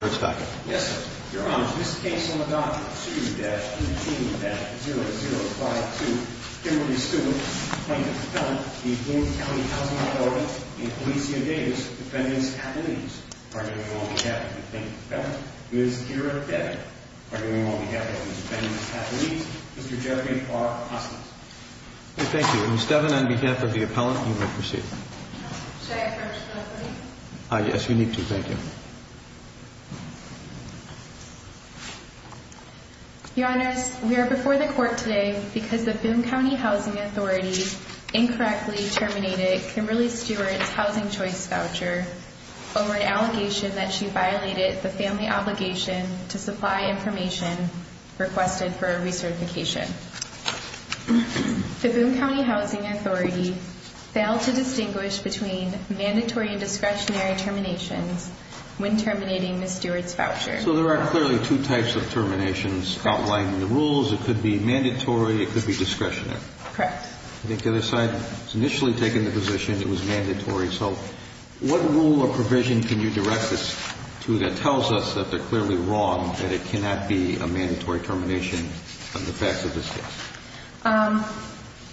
Yes, sir. Your Honor, this case on adoption of 2-22-0052, Kimberly Stewart, plaintiff's appellant, Boone County Housing Authority, and Alicia Davis, defendants' attorneys, arguing on behalf of the plaintiff's appellant, Ms. Kira Devin, arguing on behalf of the defendants' attorneys, Mr. Jeffrey R. Hoskins. Thank you. Ms. Devin, on behalf of the appellant, you may proceed. Should I approach the attorney? Yes, you need to. Thank you. Your Honors, we are before the court today because the Boone County Housing Authority incorrectly terminated Kimberly Stewart's housing choice voucher over an allegation that she violated the family obligation to supply information requested for a recertification. The Boone County Housing Authority failed to distinguish between mandatory and discretionary terminations when terminating Ms. Stewart's voucher. So there are clearly two types of terminations outlining the rules. It could be mandatory. It could be discretionary. Correct. I think the other side has initially taken the position it was mandatory. So what rule or provision can you direct us to that tells us that they're clearly wrong, that it cannot be a mandatory termination of the facts of this case?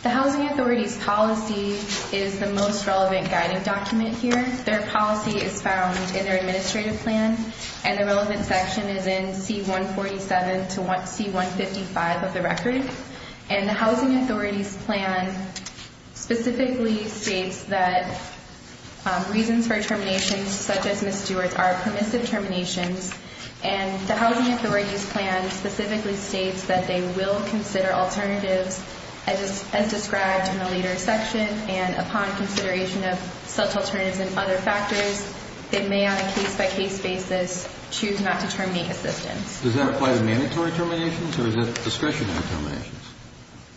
The Housing Authority's policy is the most relevant guiding document here. Their policy is found in their administrative plan, and the relevant section is in C147 to C155 of the record. And the Housing Authority's plan specifically states that reasons for terminations such as Ms. Stewart's are permissive terminations, and the Housing Authority's plan specifically states that they will consider alternatives as described in the later section, and upon consideration of such alternatives and other factors, they may on a case-by-case basis choose not to terminate assistance. Does that apply to mandatory terminations, or is it discretionary terminations?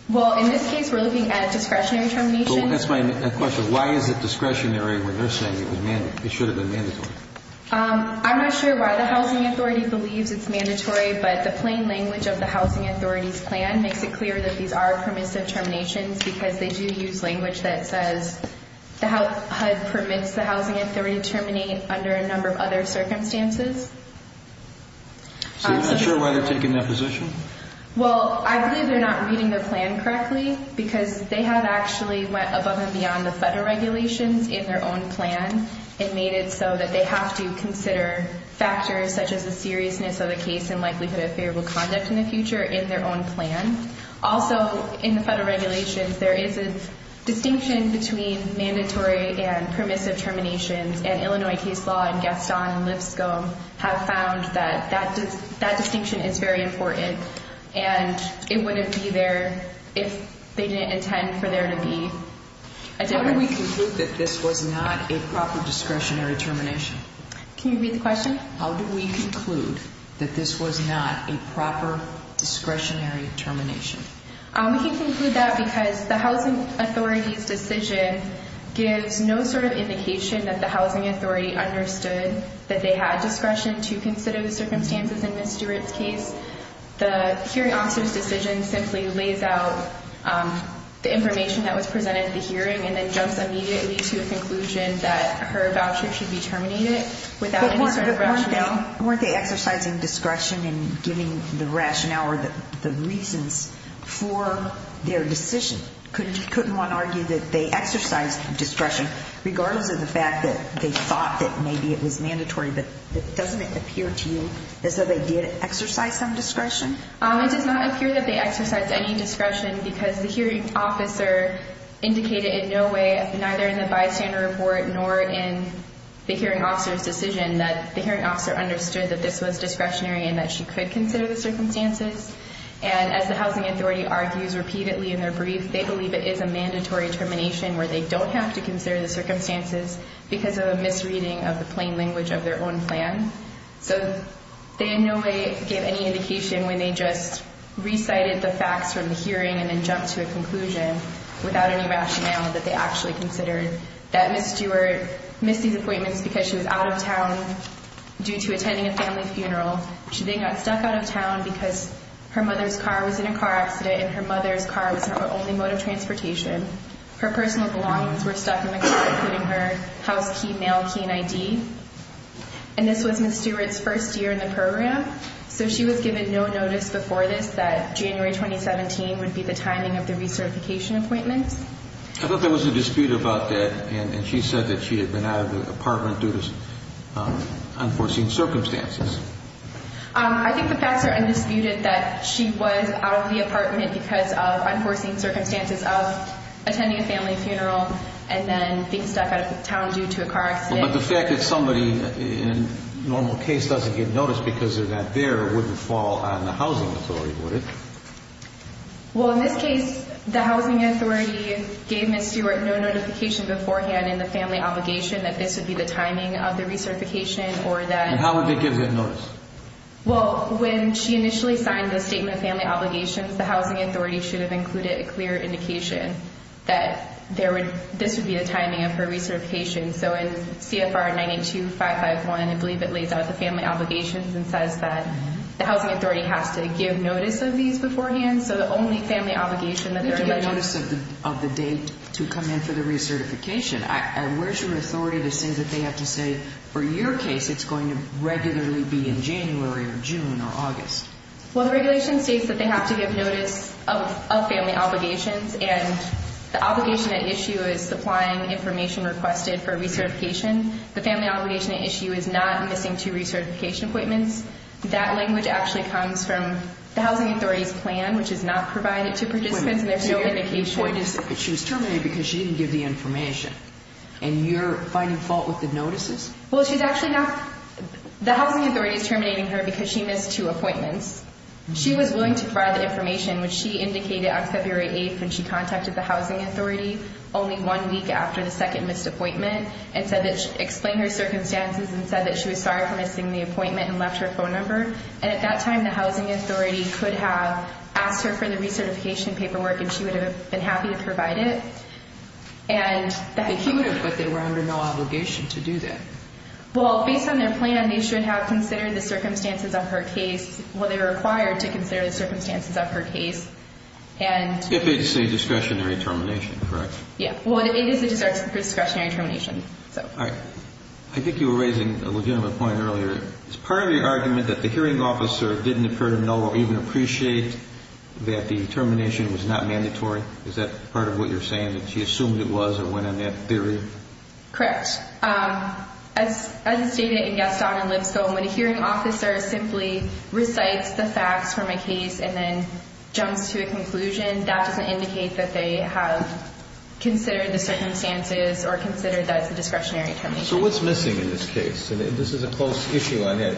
Well, in this case, we're looking at discretionary terminations. That's my question. Why is it discretionary when they're saying it should have been mandatory? I'm not sure why the Housing Authority believes it's mandatory, but the plain language of the Housing Authority's plan makes it clear that these are permissive terminations because they do use language that says the HUD permits the Housing Authority to terminate under a number of other circumstances. So you're not sure why they're taking that position? Well, I believe they're not reading the plan correctly because they have actually went above and beyond the federal regulations in their own plan and made it so that they have to consider factors such as the seriousness of the case and likelihood of favorable conduct in the future in their own plan. Also, in the federal regulations, there is a distinction between mandatory and permissive terminations, and Illinois case law and Gaston and Lipscomb have found that that distinction is very important, and it wouldn't be there if they didn't intend for there to be a difference. How do we conclude that this was not a proper discretionary termination? How do we conclude that this was not a proper discretionary termination? We can conclude that because the Housing Authority's decision gives no sort of indication that the Housing Authority understood that they had discretion to consider the circumstances in Ms. Stewart's case. The hearing officer's decision simply lays out the information that was presented at the hearing and then jumps immediately to a conclusion that her voucher should be terminated without any sort of rationale. Weren't they exercising discretion in giving the rationale or the reasons for their decision? Couldn't one argue that they exercised discretion, regardless of the fact that they thought that maybe it was mandatory, but doesn't it appear to you as though they did exercise some discretion? It does not appear that they exercised any discretion because the hearing officer indicated in no way, neither in the bystander report nor in the hearing officer's decision, that the hearing officer understood that this was discretionary and that she could consider the circumstances. And as the Housing Authority argues repeatedly in their brief, they believe it is a mandatory termination where they don't have to consider the circumstances because of a misreading of the plain language of their own plan. So they in no way gave any indication when they just recited the facts from the hearing and then jumped to a conclusion without any rationale that they actually considered that Ms. Stewart missed these appointments because she was out of town due to attending a family funeral. She then got stuck out of town because her mother's car was in a car accident and her mother's car was her only mode of transportation. Her personal belongings were stuck in the car, including her house key, mail key, and ID. And this was Ms. Stewart's first year in the program, so she was given no notice before this that January 2017 would be the timing of the recertification appointments. I thought there was a dispute about that, and she said that she had been out of the apartment due to unforeseen circumstances. I think the facts are undisputed that she was out of the apartment because of unforeseen circumstances of attending a family funeral and then being stuck out of town due to a car accident. But the fact that somebody in a normal case doesn't get notice because they're not there wouldn't fall on the Housing Authority, would it? Well, in this case, the Housing Authority gave Ms. Stewart no notification beforehand in the family obligation that this would be the timing of the recertification or that... And how would they give that notice? Well, when she initially signed the statement of family obligations, the Housing Authority should have included a clear indication that this would be the timing of her recertification. So in CFR 982551, I believe it lays out the family obligations and says that the Housing Authority has to give notice of these beforehand. So the only family obligation that they're... They do give notice of the date to come in for the recertification. Where's your authority to say that they have to say, for your case, it's going to regularly be in January or June or August? Well, the regulation states that they have to give notice of family obligations, and the obligation at issue is supplying information requested for recertification. The family obligation at issue is not missing two recertification appointments. That language actually comes from the Housing Authority's plan, which is not provided to participants, and there's no indication... Wait a minute. Your point is that she was terminated because she didn't give the information, and you're finding fault with the notices? Well, she's actually not... The Housing Authority is terminating her because she missed two appointments. She was willing to provide the information, which she indicated on February 8th when she contacted the Housing Authority, only one week after the second missed appointment, and explained her circumstances and said that she was sorry for missing the appointment and left her phone number. And at that time, the Housing Authority could have asked her for the recertification paperwork, and she would have been happy to provide it. But she would have, but they were under no obligation to do that. Well, based on their plan, they should have considered the circumstances of her case, what they required to consider the circumstances of her case, and... If it's a discretionary termination, correct? Yeah. Well, it is a discretionary termination, so... All right. I think you were raising a legitimate point earlier. Is part of your argument that the hearing officer didn't appear to know or even appreciate that the termination was not mandatory? Is that part of what you're saying, that she assumed it was or went on that theory? Correct. As stated in Gaston and Lipscomb, when a hearing officer simply recites the facts from a case and then jumps to a conclusion, that doesn't indicate that they have considered the circumstances or considered that it's a discretionary termination. So what's missing in this case? This is a close issue on that.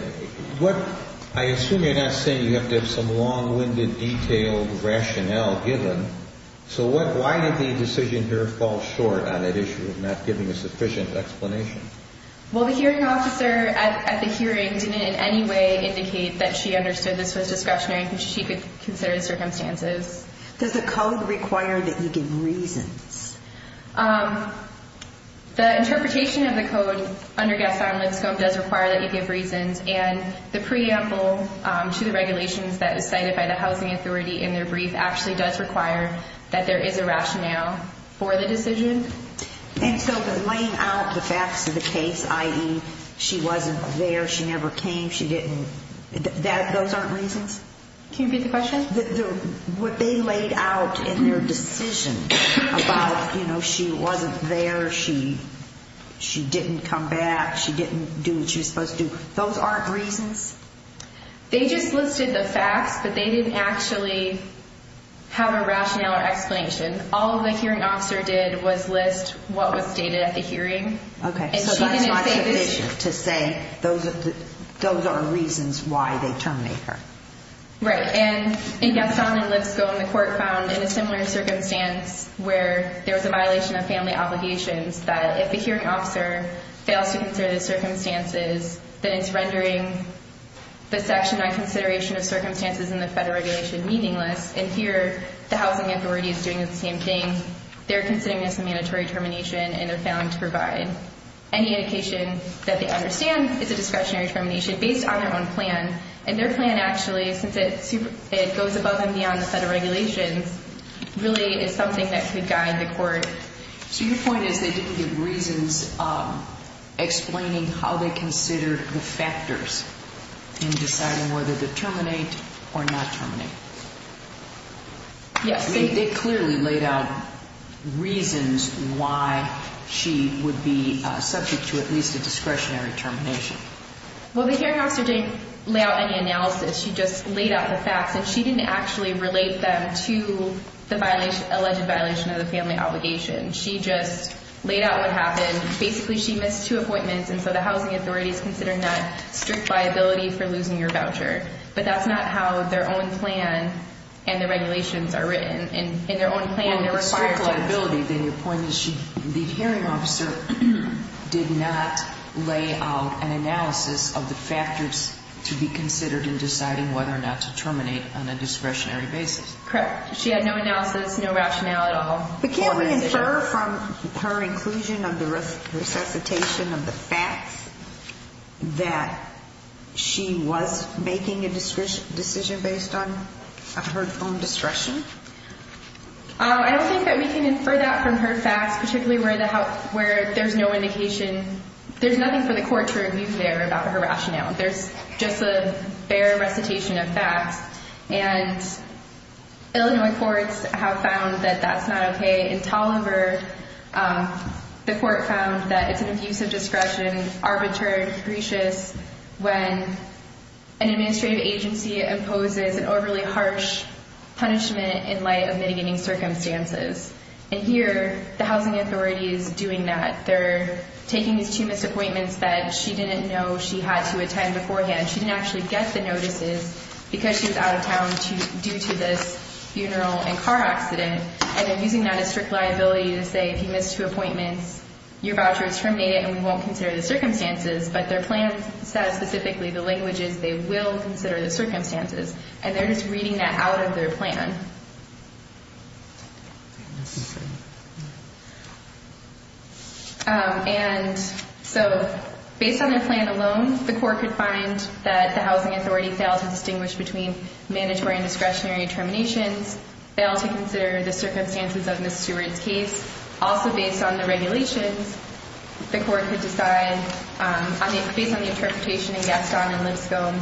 I assume you're not saying you have to have some long-winded, detailed rationale given. So why did the decision here fall short on that issue of not giving a sufficient explanation? Well, the hearing officer at the hearing didn't in any way indicate that she understood this was discretionary, because she could consider the circumstances. Does the code require that you give reasons? The interpretation of the code under Gaston and Lipscomb does require that you give reasons. And the preamble to the regulations that is cited by the housing authority in their brief actually does require that there is a rationale for the decision. And so the laying out the facts of the case, i.e., she wasn't there, she never came, she didn't, those aren't reasons? Can you repeat the question? What they laid out in their decision about, you know, she wasn't there, she didn't come back, she didn't do what she was supposed to do, those aren't reasons? They just listed the facts, but they didn't actually have a rationale or explanation. All the hearing officer did was list what was stated at the hearing. Okay, so that's not sufficient to say those are reasons why they terminate her. Right, and in Gaston and Lipscomb, the court found in a similar circumstance where there was a violation of family obligations, that if the hearing officer fails to consider the circumstances, then it's rendering the section on consideration of circumstances in the federal regulation meaningless. And here, the housing authority is doing the same thing. They're considering this a mandatory termination, and they're failing to provide any indication that they understand it's a discretionary termination based on their own plan. And their plan actually, since it goes above and beyond the federal regulations, really is something that could guide the court. So your point is they didn't give reasons explaining how they considered the factors in deciding whether to terminate or not terminate. Yes. They clearly laid out reasons why she would be subject to at least a discretionary termination. Well, the hearing officer didn't lay out any analysis. She just laid out the facts, and she didn't actually relate them to the alleged violation of the family obligation. She just laid out what happened. Basically, she missed two appointments, and so the housing authority is considering that strict liability for losing your voucher. But that's not how their own plan and the regulations are written. Well, if it's strict liability, then your point is the hearing officer did not lay out an analysis of the factors to be considered in deciding whether or not to terminate on a discretionary basis. Correct. She had no analysis, no rationale at all. But can we infer from her inclusion of the resuscitation of the facts that she was making a decision based on her own discretion? I don't think that we can infer that from her facts, particularly where there's no indication. There's nothing for the court to review there about her rationale. There's just a fair recitation of facts. And Illinois courts have found that that's not okay. In Tolliver, the court found that it's an abuse of discretion, arbitrary and capricious, when an administrative agency imposes an overly harsh punishment in light of mitigating circumstances. And here, the housing authority is doing that. They're taking these two missed appointments that she didn't know she had to attend beforehand. She didn't actually get the notices because she was out of town due to this funeral and car accident. And they're using that as strict liability to say, if you miss two appointments, your voucher is terminated and we won't consider the circumstances. But their plan says specifically the languages they will consider the circumstances. And they're just reading that out of their plan. And so based on their plan alone, the court could find that the housing authority failed to distinguish between mandatory and discretionary terminations, failed to consider the circumstances of Ms. Stewart's case. Also based on the regulations, the court could decide, based on the interpretation in Gaston and Lipscomb,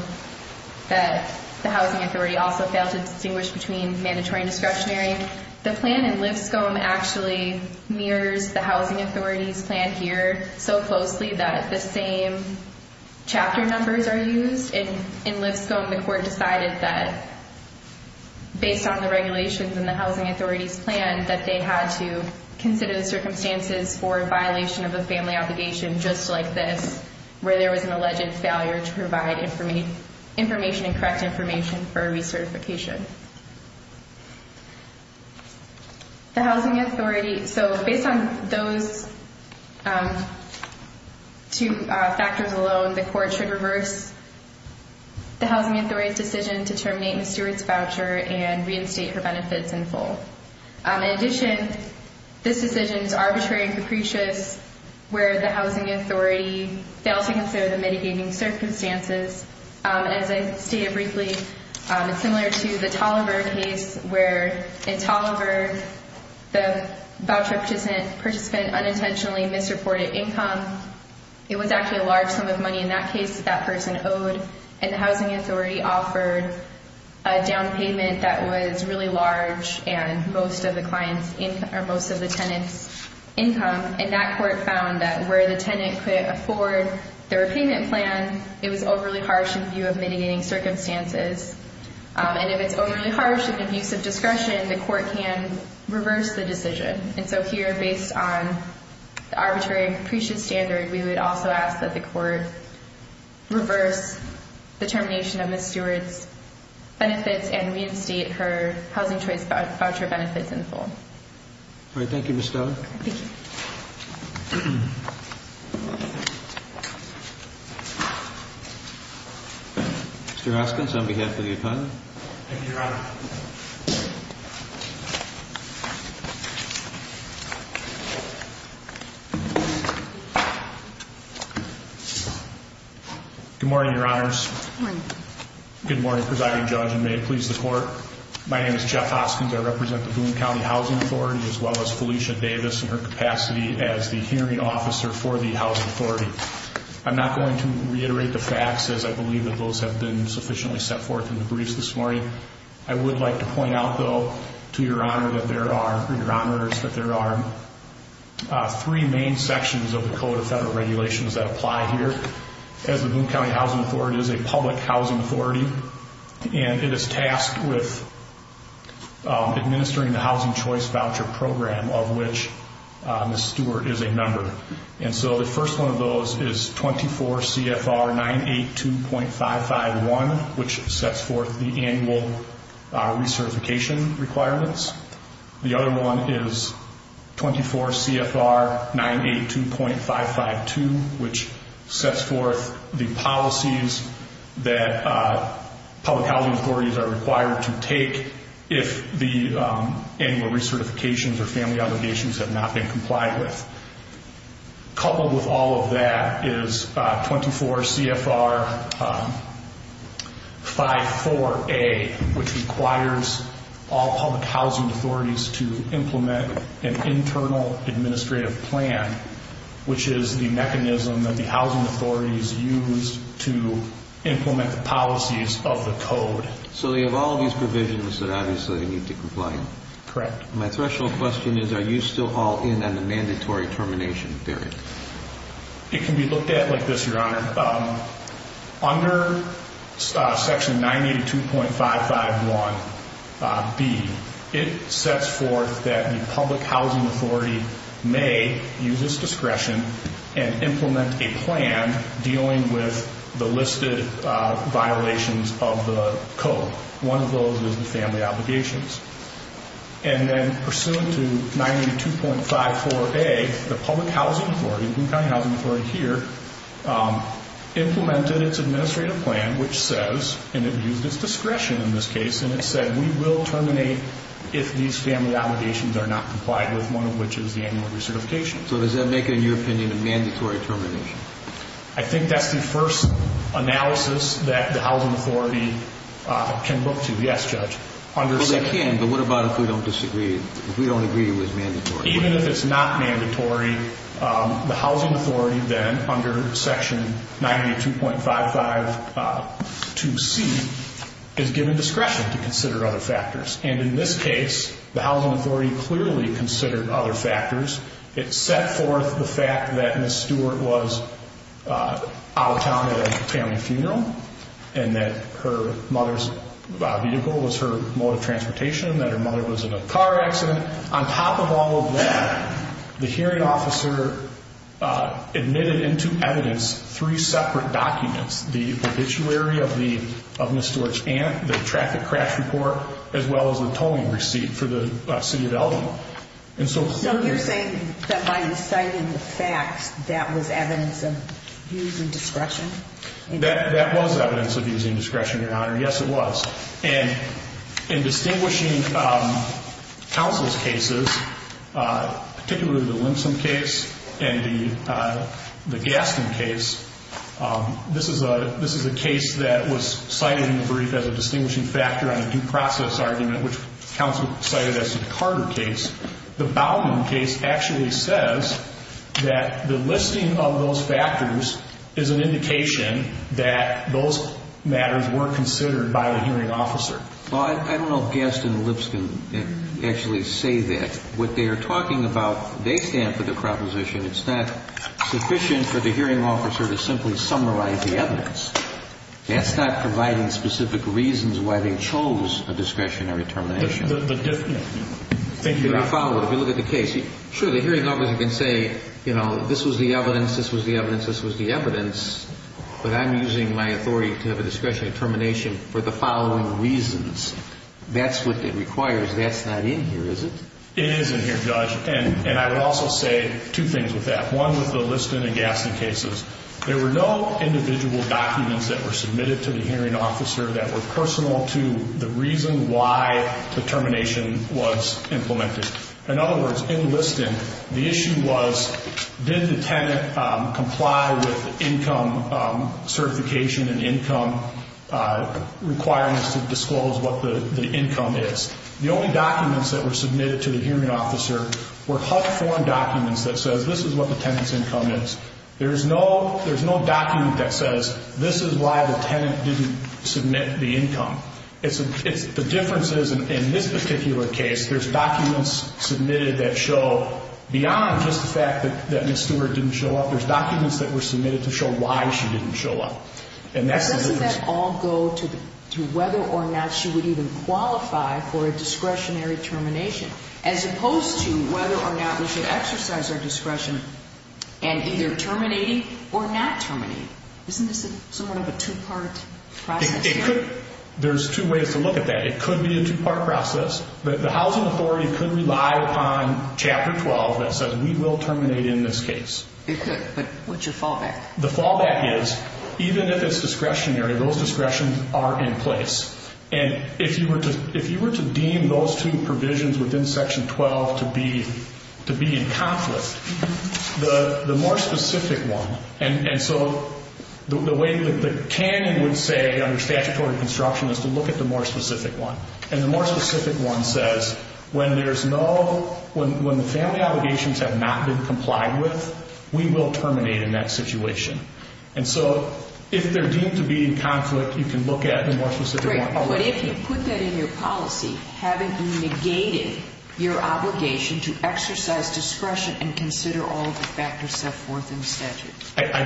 that the housing authority also failed to distinguish between mandatory and discretionary. The plan in Lipscomb actually mirrors the housing authority's plan here so closely that the same chapter numbers are used. In Lipscomb, the court decided that, based on the regulations in the housing authority's plan, that they had to consider the circumstances for a violation of a family obligation just like this, where there was an alleged failure to provide information and correct information for a recertification. So based on those two factors alone, the court should reverse the housing authority's decision to terminate Ms. Stewart's voucher and reinstate her benefits in full. In addition, this decision is arbitrary and capricious, where the housing authority failed to consider the mitigating circumstances. As I stated briefly, it's similar to the Tallenberg case, where in Tallenberg, the voucher participant unintentionally misreported income. It was actually a large sum of money in that case that that person owed, and the housing authority offered a down payment that was really large and most of the tenant's income. And that court found that where the tenant could afford the repayment plan, it was overly harsh in view of mitigating circumstances. And if it's overly harsh in the use of discretion, the court can reverse the decision. And so here, based on the arbitrary and capricious standard, we would also ask that the court reverse the termination of Ms. Stewart's benefits and reinstate her housing choice voucher benefits in full. All right. Thank you, Ms. Stone. Thank you. Mr. Hoskins, on behalf of the opponent. Thank you, Your Honor. Good morning, Your Honors. Good morning. Good morning, Presiding Judge, and may it please the Court. My name is Jeff Hoskins. I represent the Boone County Housing Authority, as well as Felicia Davis in her capacity as the hearing officer for the housing authority. I'm not going to reiterate the facts, as I believe that those have been sufficiently set forth in the briefs this morning. I would like to point out, though, to Your Honor that there are three main sections of the Code of Federal Regulations that apply here. As the Boone County Housing Authority is a public housing authority, and it is tasked with administering the housing choice voucher program, of which Ms. Stewart is a member. The first one of those is 24 CFR 982.551, which sets forth the annual recertification requirements. The other one is 24 CFR 982.552, which sets forth the policies that public housing authorities are required to take if the annual recertifications or family obligations have not been complied with. Coupled with all of that is 24 CFR 54A, which requires all public housing authorities to implement an internal administrative plan, which is the mechanism that the housing authorities use to implement the policies of the Code. So you have all these provisions that obviously need to comply. Correct. My threshold question is, are you still all in on the mandatory termination period? It can be looked at like this, Your Honor. Under section 982.551B, it sets forth that the public housing authority may use its discretion and implement a plan dealing with the listed violations of the Code. One of those is the family obligations. And then pursuant to 982.54A, the public housing authority, the county housing authority here, implemented its administrative plan, which says, and it used its discretion in this case, and it said we will terminate if these family obligations are not complied with, one of which is the annual recertification. So does that make it, in your opinion, a mandatory termination? I think that's the first analysis that the housing authority can look to, yes, Judge. Well, they can, but what about if we don't disagree, if we don't agree it was mandatory? Even if it's not mandatory, the housing authority then, under section 982.552C, is given discretion to consider other factors. And in this case, the housing authority clearly considered other factors. It set forth the fact that Ms. Stewart was out of town at a family funeral and that her mother's vehicle was her mode of transportation, that her mother was in a car accident. On top of all of that, the hearing officer admitted into evidence three separate documents, the obituary of Ms. Stewart's aunt, the traffic crash report, as well as the tolling receipt for the city of Elgin. So you're saying that by inciting the facts, that was evidence of using discretion? That was evidence of using discretion, Your Honor. Yes, it was. And in distinguishing counsel's cases, particularly the Limpson case and the Gaston case, this is a case that was cited in the brief as a distinguishing factor on a due process argument, which counsel cited as the Carter case. The Bowman case actually says that the listing of those factors is an indication that those matters were considered by the hearing officer. Well, I don't know if Gaston and Lipson actually say that. What they are talking about, they stand for the proposition. It's not sufficient for the hearing officer to simply summarize the evidence. That's not providing specific reasons why they chose a discretionary termination. Thank you, Your Honor. If you look at the case, sure, the hearing officer can say, you know, this was the evidence, this was the evidence, this was the evidence, but I'm using my authority to have a discretionary termination for the following reasons. That's what it requires. That's not in here, is it? It is in here, Judge. And I would also say two things with that. One was the Lipson and Gaston cases. There were no individual documents that were submitted to the hearing officer that were personal to the reason why the termination was implemented. In other words, in Lipson, the issue was did the tenant comply with income certification and income requirements to disclose what the income is. The only documents that were submitted to the hearing officer were HUD-formed documents that says this is what the tenant's income is. There's no document that says this is why the tenant didn't submit the income. The difference is in this particular case, there's documents submitted that show, beyond just the fact that Ms. Stewart didn't show up, there's documents that were submitted to show why she didn't show up. Doesn't that all go to whether or not she would even qualify for a discretionary termination as opposed to whether or not we should exercise our discretion in either terminating or not terminating? Isn't this somewhat of a two-part process? There's two ways to look at that. It could be a two-part process. The housing authority could rely upon Chapter 12 that says we will terminate in this case. It could, but what's your fallback? The fallback is even if it's discretionary, those discretions are in place. If you were to deem those two provisions within Section 12 to be in conflict, the more specific one, and so the way the canon would say under statutory construction is to look at the more specific one. The more specific one says when the family obligations have not been complied with, we will terminate in that situation. And so if they're deemed to be in conflict, you can look at the more specific one. But if you put that in your policy, haven't you negated your obligation to exercise discretion and consider all the factors set forth in the statute? I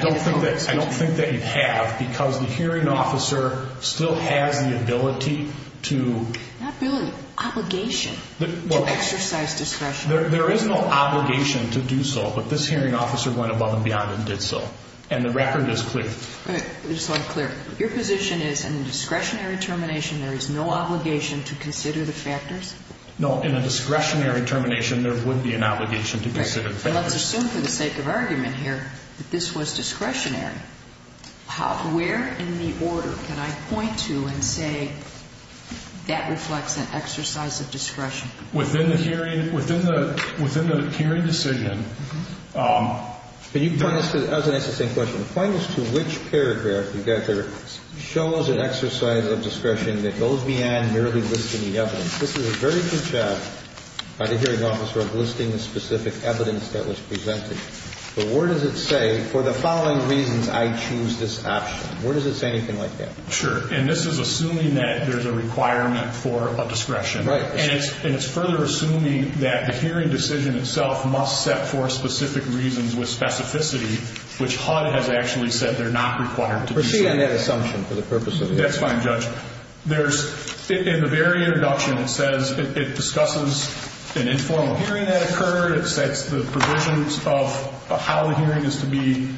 don't think that you have because the hearing officer still has the ability to... Not ability, obligation to exercise discretion. There is no obligation to do so, but this hearing officer went above and beyond and did so. And the record is clear. Just so I'm clear, your position is in a discretionary termination there is no obligation to consider the factors? No, in a discretionary termination there would be an obligation to consider the factors. Let's assume for the sake of argument here that this was discretionary. Where in the order can I point to and say that reflects an exercise of discretion? Within the hearing decision... Can you point us to... I was going to ask the same question. Point us to which paragraph you guys are... shows an exercise of discretion that goes beyond merely listing the evidence. This is a very good job by the hearing officer of listing the specific evidence that was presented. But where does it say, for the following reasons, I choose this option? Where does it say anything like that? Sure, and this is assuming that there's a requirement for a discretion. Right. And it's further assuming that the hearing decision itself must set for specific reasons with specificity, which HUD has actually said they're not required to do so. Proceed on that assumption for the purpose of the hearing. That's fine, Judge. In the very introduction it says it discusses an informal hearing that occurred. It sets the provisions of how the hearing is to be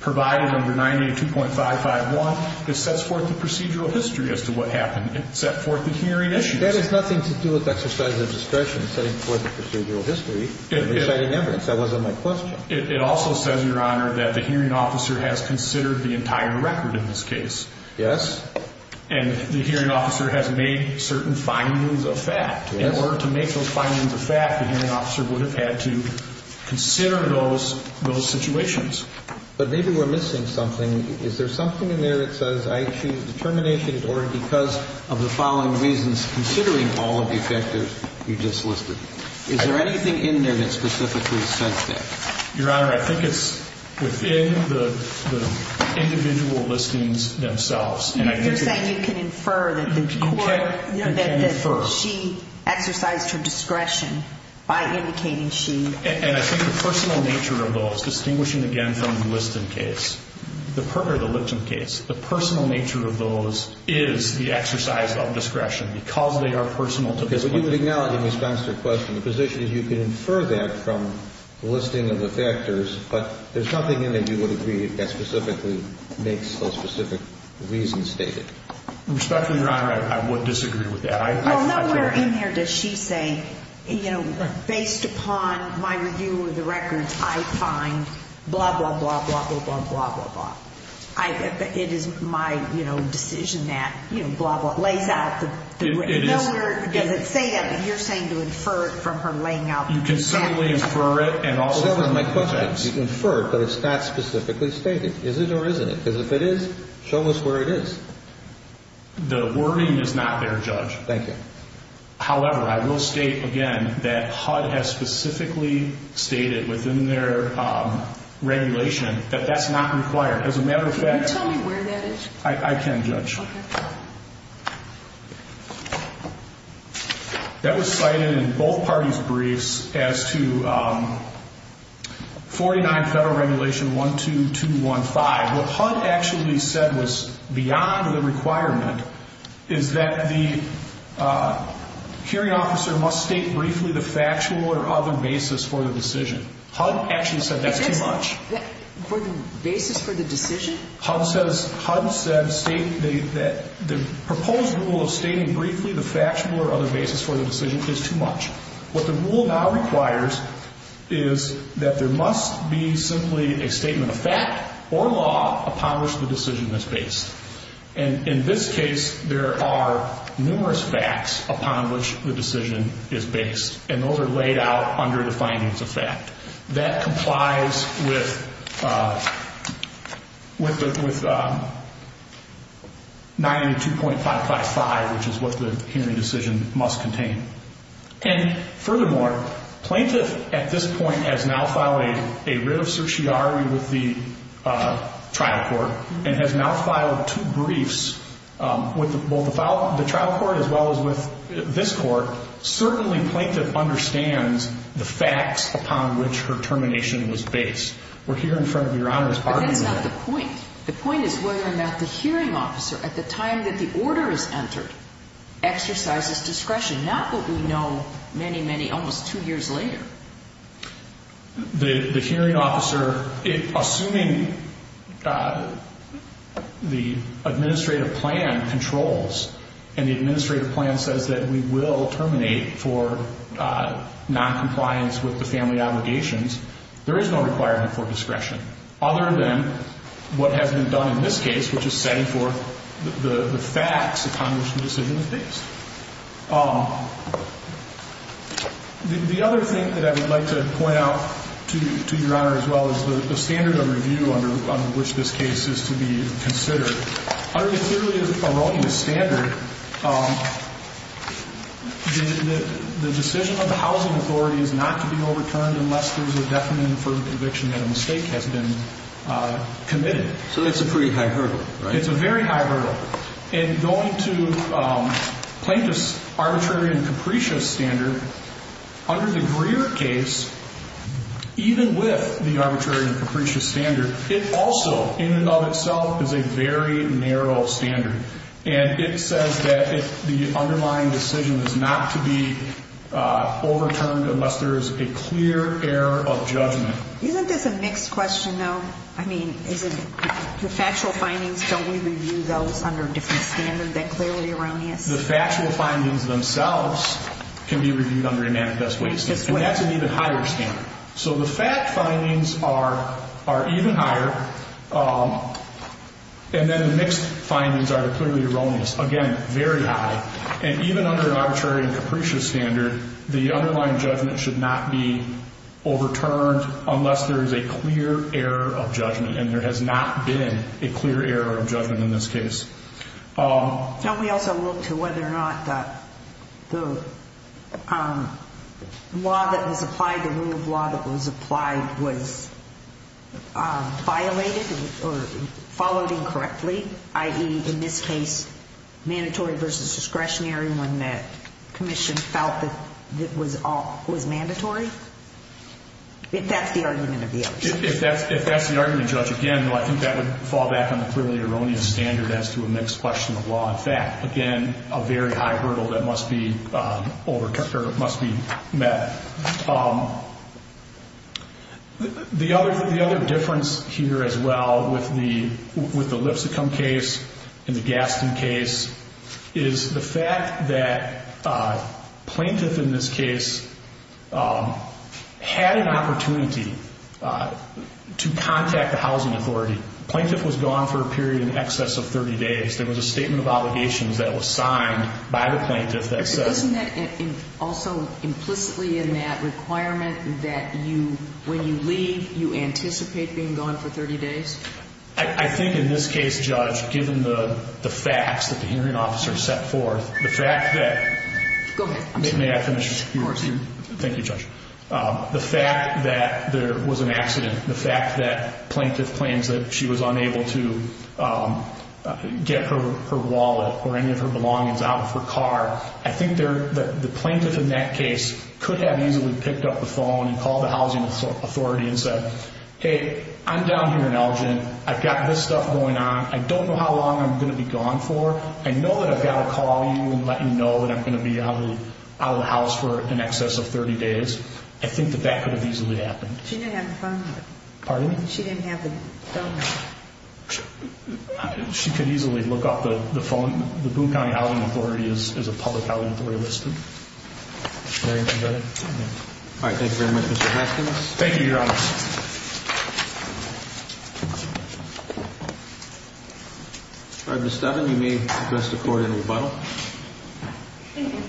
provided under 982.551. It sets forth the procedural history as to what happened. It set forth the hearing issues. That has nothing to do with exercise of discretion, setting forth the procedural history and deciding evidence. That wasn't my question. It also says, Your Honor, that the hearing officer has considered the entire record in this case. Yes. And the hearing officer has made certain findings of fact. In order to make those findings of fact, the hearing officer would have had to consider those situations. But maybe we're missing something. Is there something in there that says I choose determination in order because of the following reasons, considering all of the factors you just listed? Is there anything in there that specifically says that? Your Honor, I think it's within the individual listings themselves. You're saying you can infer that the court, you know, that she exercised her discretion by indicating she. And I think the personal nature of those, distinguishing again from the Liston case, or the Lipton case, the personal nature of those is the exercise of discretion because they are personal. But you would acknowledge in response to her question, the position is you can infer that from the listing of the factors, but there's nothing in there you would agree that specifically makes those specific reasons stated. Respectfully, Your Honor, I would disagree with that. Well, nowhere in there does she say, you know, based upon my review of the records, I find blah, blah, blah, blah, blah, blah, blah, blah. It is my, you know, decision that, you know, blah, blah, lays out the. Nowhere does it say that, but you're saying to infer it from her laying out. You can certainly infer it and also. That was my question. You can infer it, but it's not specifically stated. Is it or isn't it? Because if it is, show us where it is. The wording is not there, Judge. Thank you. However, I will state again that HUD has specifically stated within their regulation that that's not required. As a matter of fact. Can you tell me where that is? I can, Judge. Okay. That was cited in both parties' briefs as to 49 Federal Regulation 12215. What HUD actually said was beyond the requirement is that the hearing officer must state briefly the factual or other basis for the decision. HUD actually said that's too much. For the basis for the decision? HUD says, HUD said state that the proposed rule of stating briefly the factual or other basis for the decision is too much. What the rule now requires is that there must be simply a statement of fact or law upon which the decision is based. And in this case, there are numerous facts upon which the decision is based. And those are laid out under the findings of fact. That complies with 92.555, which is what the hearing decision must contain. And furthermore, plaintiff at this point has now filed a writ of certiorari with the trial court and has now filed two briefs with both the trial court as well as with this court. Certainly, plaintiff understands the facts upon which her termination was based. We're here in front of Your Honor's argument. But that's not the point. The point is whether or not the hearing officer, at the time that the order is entered, exercises discretion, not what we know many, many, almost two years later. The hearing officer, assuming the administrative plan controls and the administrative plan says that we will terminate for noncompliance with the family obligations, there is no requirement for discretion other than what has been done in this case, which is setting forth the facts upon which the decision is based. The other thing that I would like to point out to Your Honor as well is the standard of review under which this case is to be considered. Under the clearly erroneous standard, the decision of the housing authority is not to be overturned unless there's a definite and affirmative conviction that a mistake has been committed. So it's a pretty high hurdle, right? It's a very high hurdle. And going to plaintiff's arbitrary and capricious standard, under the Greer case, even with the arbitrary and capricious standard, it also, in and of itself, is a very narrow standard. And it says that the underlying decision is not to be overturned unless there is a clear error of judgment. Isn't this a mixed question, though? I mean, the factual findings, don't we review those under a different standard than clearly erroneous? The factual findings themselves can be reviewed under a manifest waste. And that's an even higher standard. So the fact findings are even higher, and then the mixed findings are the clearly erroneous. Again, very high. And even under an arbitrary and capricious standard, the underlying judgment should not be overturned unless there is a clear error of judgment. And there has not been a clear error of judgment in this case. Don't we also look to whether or not the law that was applied, the rule of law that was applied, was violated or followed incorrectly? I.e., in this case, mandatory versus discretionary when the commission felt that it was mandatory? If that's the argument of the judge. If that's the argument of the judge, again, I think that would fall back on the clearly erroneous standard as to a mixed question of law and fact. Again, a very high hurdle that must be met. The other difference here as well with the Lipsicum case and the Gaston case is the fact that plaintiff in this case had an opportunity to contact the housing authority. The plaintiff was gone for a period in excess of 30 days. There was a statement of obligations that was signed by the plaintiff that said. Wasn't that also implicitly in that requirement that you, when you leave, you anticipate being gone for 30 days? I think in this case, Judge, given the facts that the hearing officer set forth, the fact that. Go ahead. May I finish? Of course. Thank you, Judge. The fact that there was an accident, the fact that plaintiff claims that she was unable to get her wallet or any of her belongings out of her car, I think the plaintiff in that case could have easily picked up the phone and called the housing authority and said, Hey, I'm down here in Elgin. I've got this stuff going on. I don't know how long I'm going to be gone for. I know that I've got to call you and let you know that I'm going to be out of the house for in excess of 30 days. I think that that could have easily happened. She didn't have the phone number. Pardon me? She didn't have the phone number. She could easily look up the phone. The Boone County Housing Authority is a public housing authority listed. Very good. All right. Thank you very much, Mr. Hopkins. Thank you, Your Honor. All right, Ms. Devon, you may address the court in rebuttal. Thank you.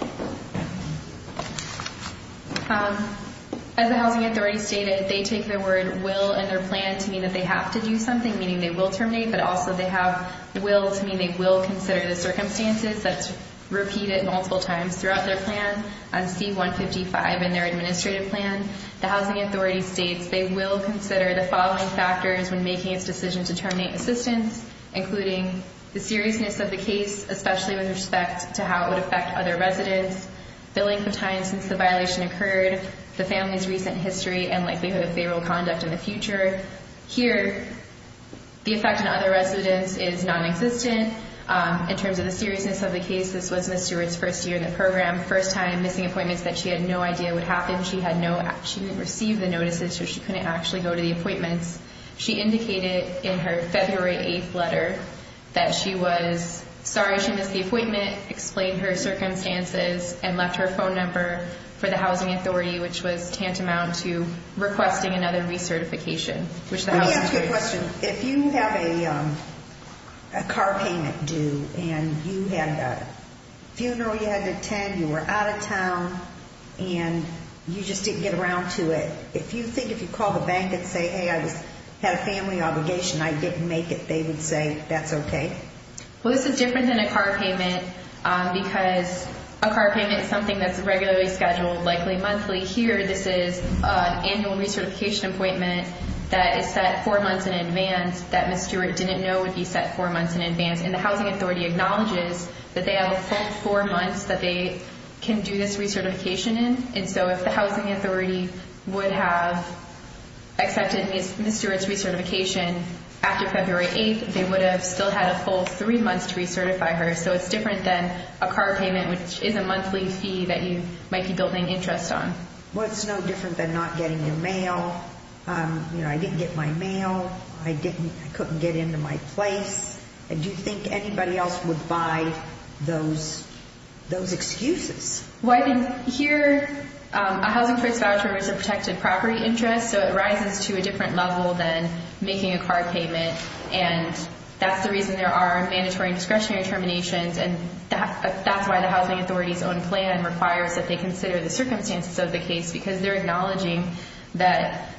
As the housing authority stated, they take their word will in their plan to mean that they have to do something, meaning they will terminate, but also they have the will to mean they will consider the circumstances. That's repeated multiple times throughout their plan. On C-155 in their administrative plan, the housing authority states they will consider the following factors when making its decision to terminate assistance, including the seriousness of the case, especially with respect to how it would affect other residents, billing for time since the violation occurred, the family's recent history, and likelihood of favorable conduct in the future. Here, the effect on other residents is nonexistent. In terms of the seriousness of the case, this was Ms. Stewart's first year in the program, first time, missing appointments that she had no idea would happen. She didn't receive the notices, so she couldn't actually go to the appointments. She indicated in her February 8th letter that she was sorry she missed the appointment, explained her circumstances, and left her phone number for the housing authority, which was tantamount to requesting another recertification. Let me ask you a question. If you have a car payment due and you had a funeral you had to attend, you were out of town, and you just didn't get around to it, if you think if you call the bank and say, hey, I had a family obligation, I didn't make it, they would say that's okay? Well, this is different than a car payment because a car payment is something that's regularly scheduled, likely monthly. Here, this is an annual recertification appointment that is set four months in advance that Ms. Stewart didn't know would be set four months in advance, and the housing authority acknowledges that they have a full four months that they can do this recertification in. And so if the housing authority would have accepted Ms. Stewart's recertification after February 8th, they would have still had a full three months to recertify her. So it's different than a car payment, which is a monthly fee that you might be building interest on. Well, it's no different than not getting your mail. I didn't get my mail. I couldn't get into my place. And do you think anybody else would buy those excuses? Well, I think here a housing choice voucher is a protected property interest, so it rises to a different level than making a car payment, and that's the reason there are mandatory and discretionary terminations, and that's why the housing authority's own plan requires that they consider the circumstances of the case because they're acknowledging that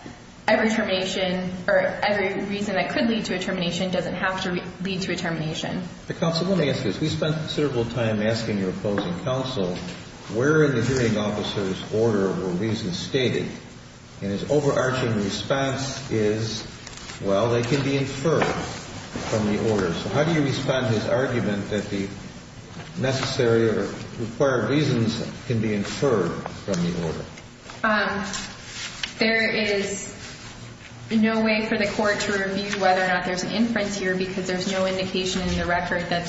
every termination or every reason that could lead to a termination doesn't have to lead to a termination. Counsel, let me ask you this. We spent considerable time asking your opposing counsel where in the hearing officer's order were reasons stated, and his overarching response is, well, they can be inferred from the order. So how do you respond to his argument that the necessary or required reasons can be inferred from the order? There is no way for the court to review whether or not there's an inference here because there's no indication in the record that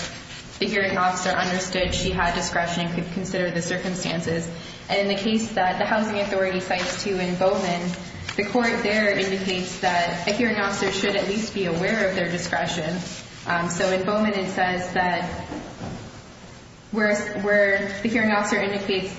the hearing officer understood she had discretion and could consider the circumstances. And in the case that the housing authority cites too in Bowman, the court there indicates that a hearing officer should at least be aware of their discretion. So in Bowman it says that where the hearing officer indicates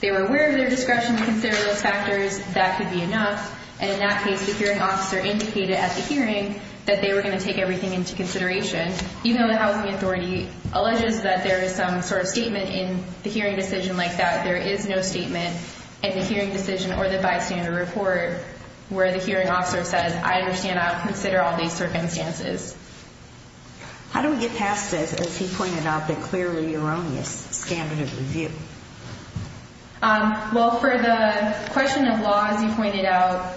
they were aware of their discretion to consider those factors, that could be enough, and in that case the hearing officer indicated at the hearing that they were going to take everything into consideration. Even though the housing authority alleges that there is some sort of statement in the hearing decision like that, there is no statement in the hearing decision or the bystander report where the hearing officer says, I understand I'll consider all these circumstances. How do we get past this, as he pointed out, the clearly erroneous standard of review? Well, for the question of law, as you pointed out,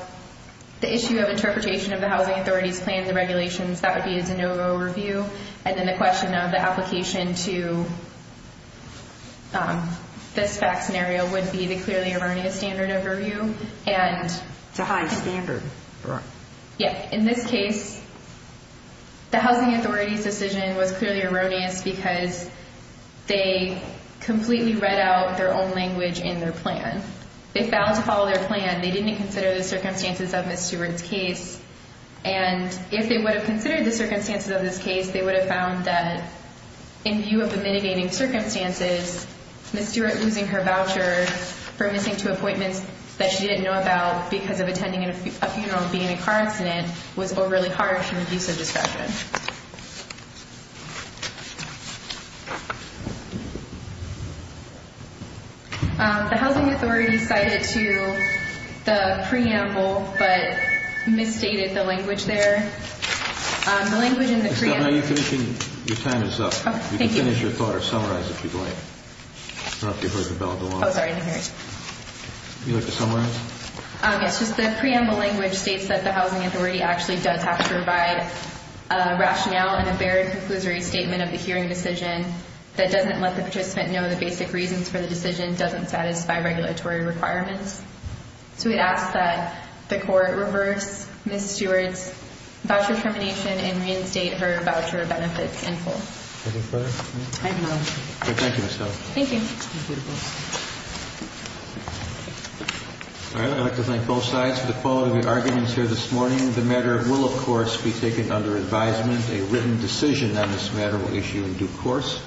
the issue of interpretation of the housing authority's plans and regulations, that would be a de novo review. And then the question of the application to this fact scenario would be the clearly erroneous standard of review. It's a high standard. Yeah. In this case, the housing authority's decision was clearly erroneous because they completely read out their own language in their plan. They found to follow their plan, they didn't consider the circumstances of Ms. Stewart's case, and if they would have considered the circumstances of this case, they would have found that in view of the mitigating circumstances, Ms. Stewart losing her voucher for missing two appointments that she didn't know about because of attending a funeral and being a car incident was overly harsh and abuse of discretion. The housing authority cited to the preamble, but misstated the language there. Your time is up. You can finish your thought or summarize if you'd like. I don't know if you heard the bell go off. Oh, sorry. I didn't hear it. Would you like to summarize? Yes. Just the preamble language states that the housing authority actually does have to provide a rationale and a varied conclusory statement of the hearing decision that doesn't let the participant know the basic reasons for the decision, doesn't satisfy regulatory requirements. So we ask that the court reverse Ms. Stewart's voucher termination and reinstate her voucher benefits in full. Any further? I have none. Thank you, Ms. Stone. Thank you. I'd like to thank both sides for the quality of your arguments here this morning. The matter will, of course, be taken under advisement. A written decision on this matter will issue in due course.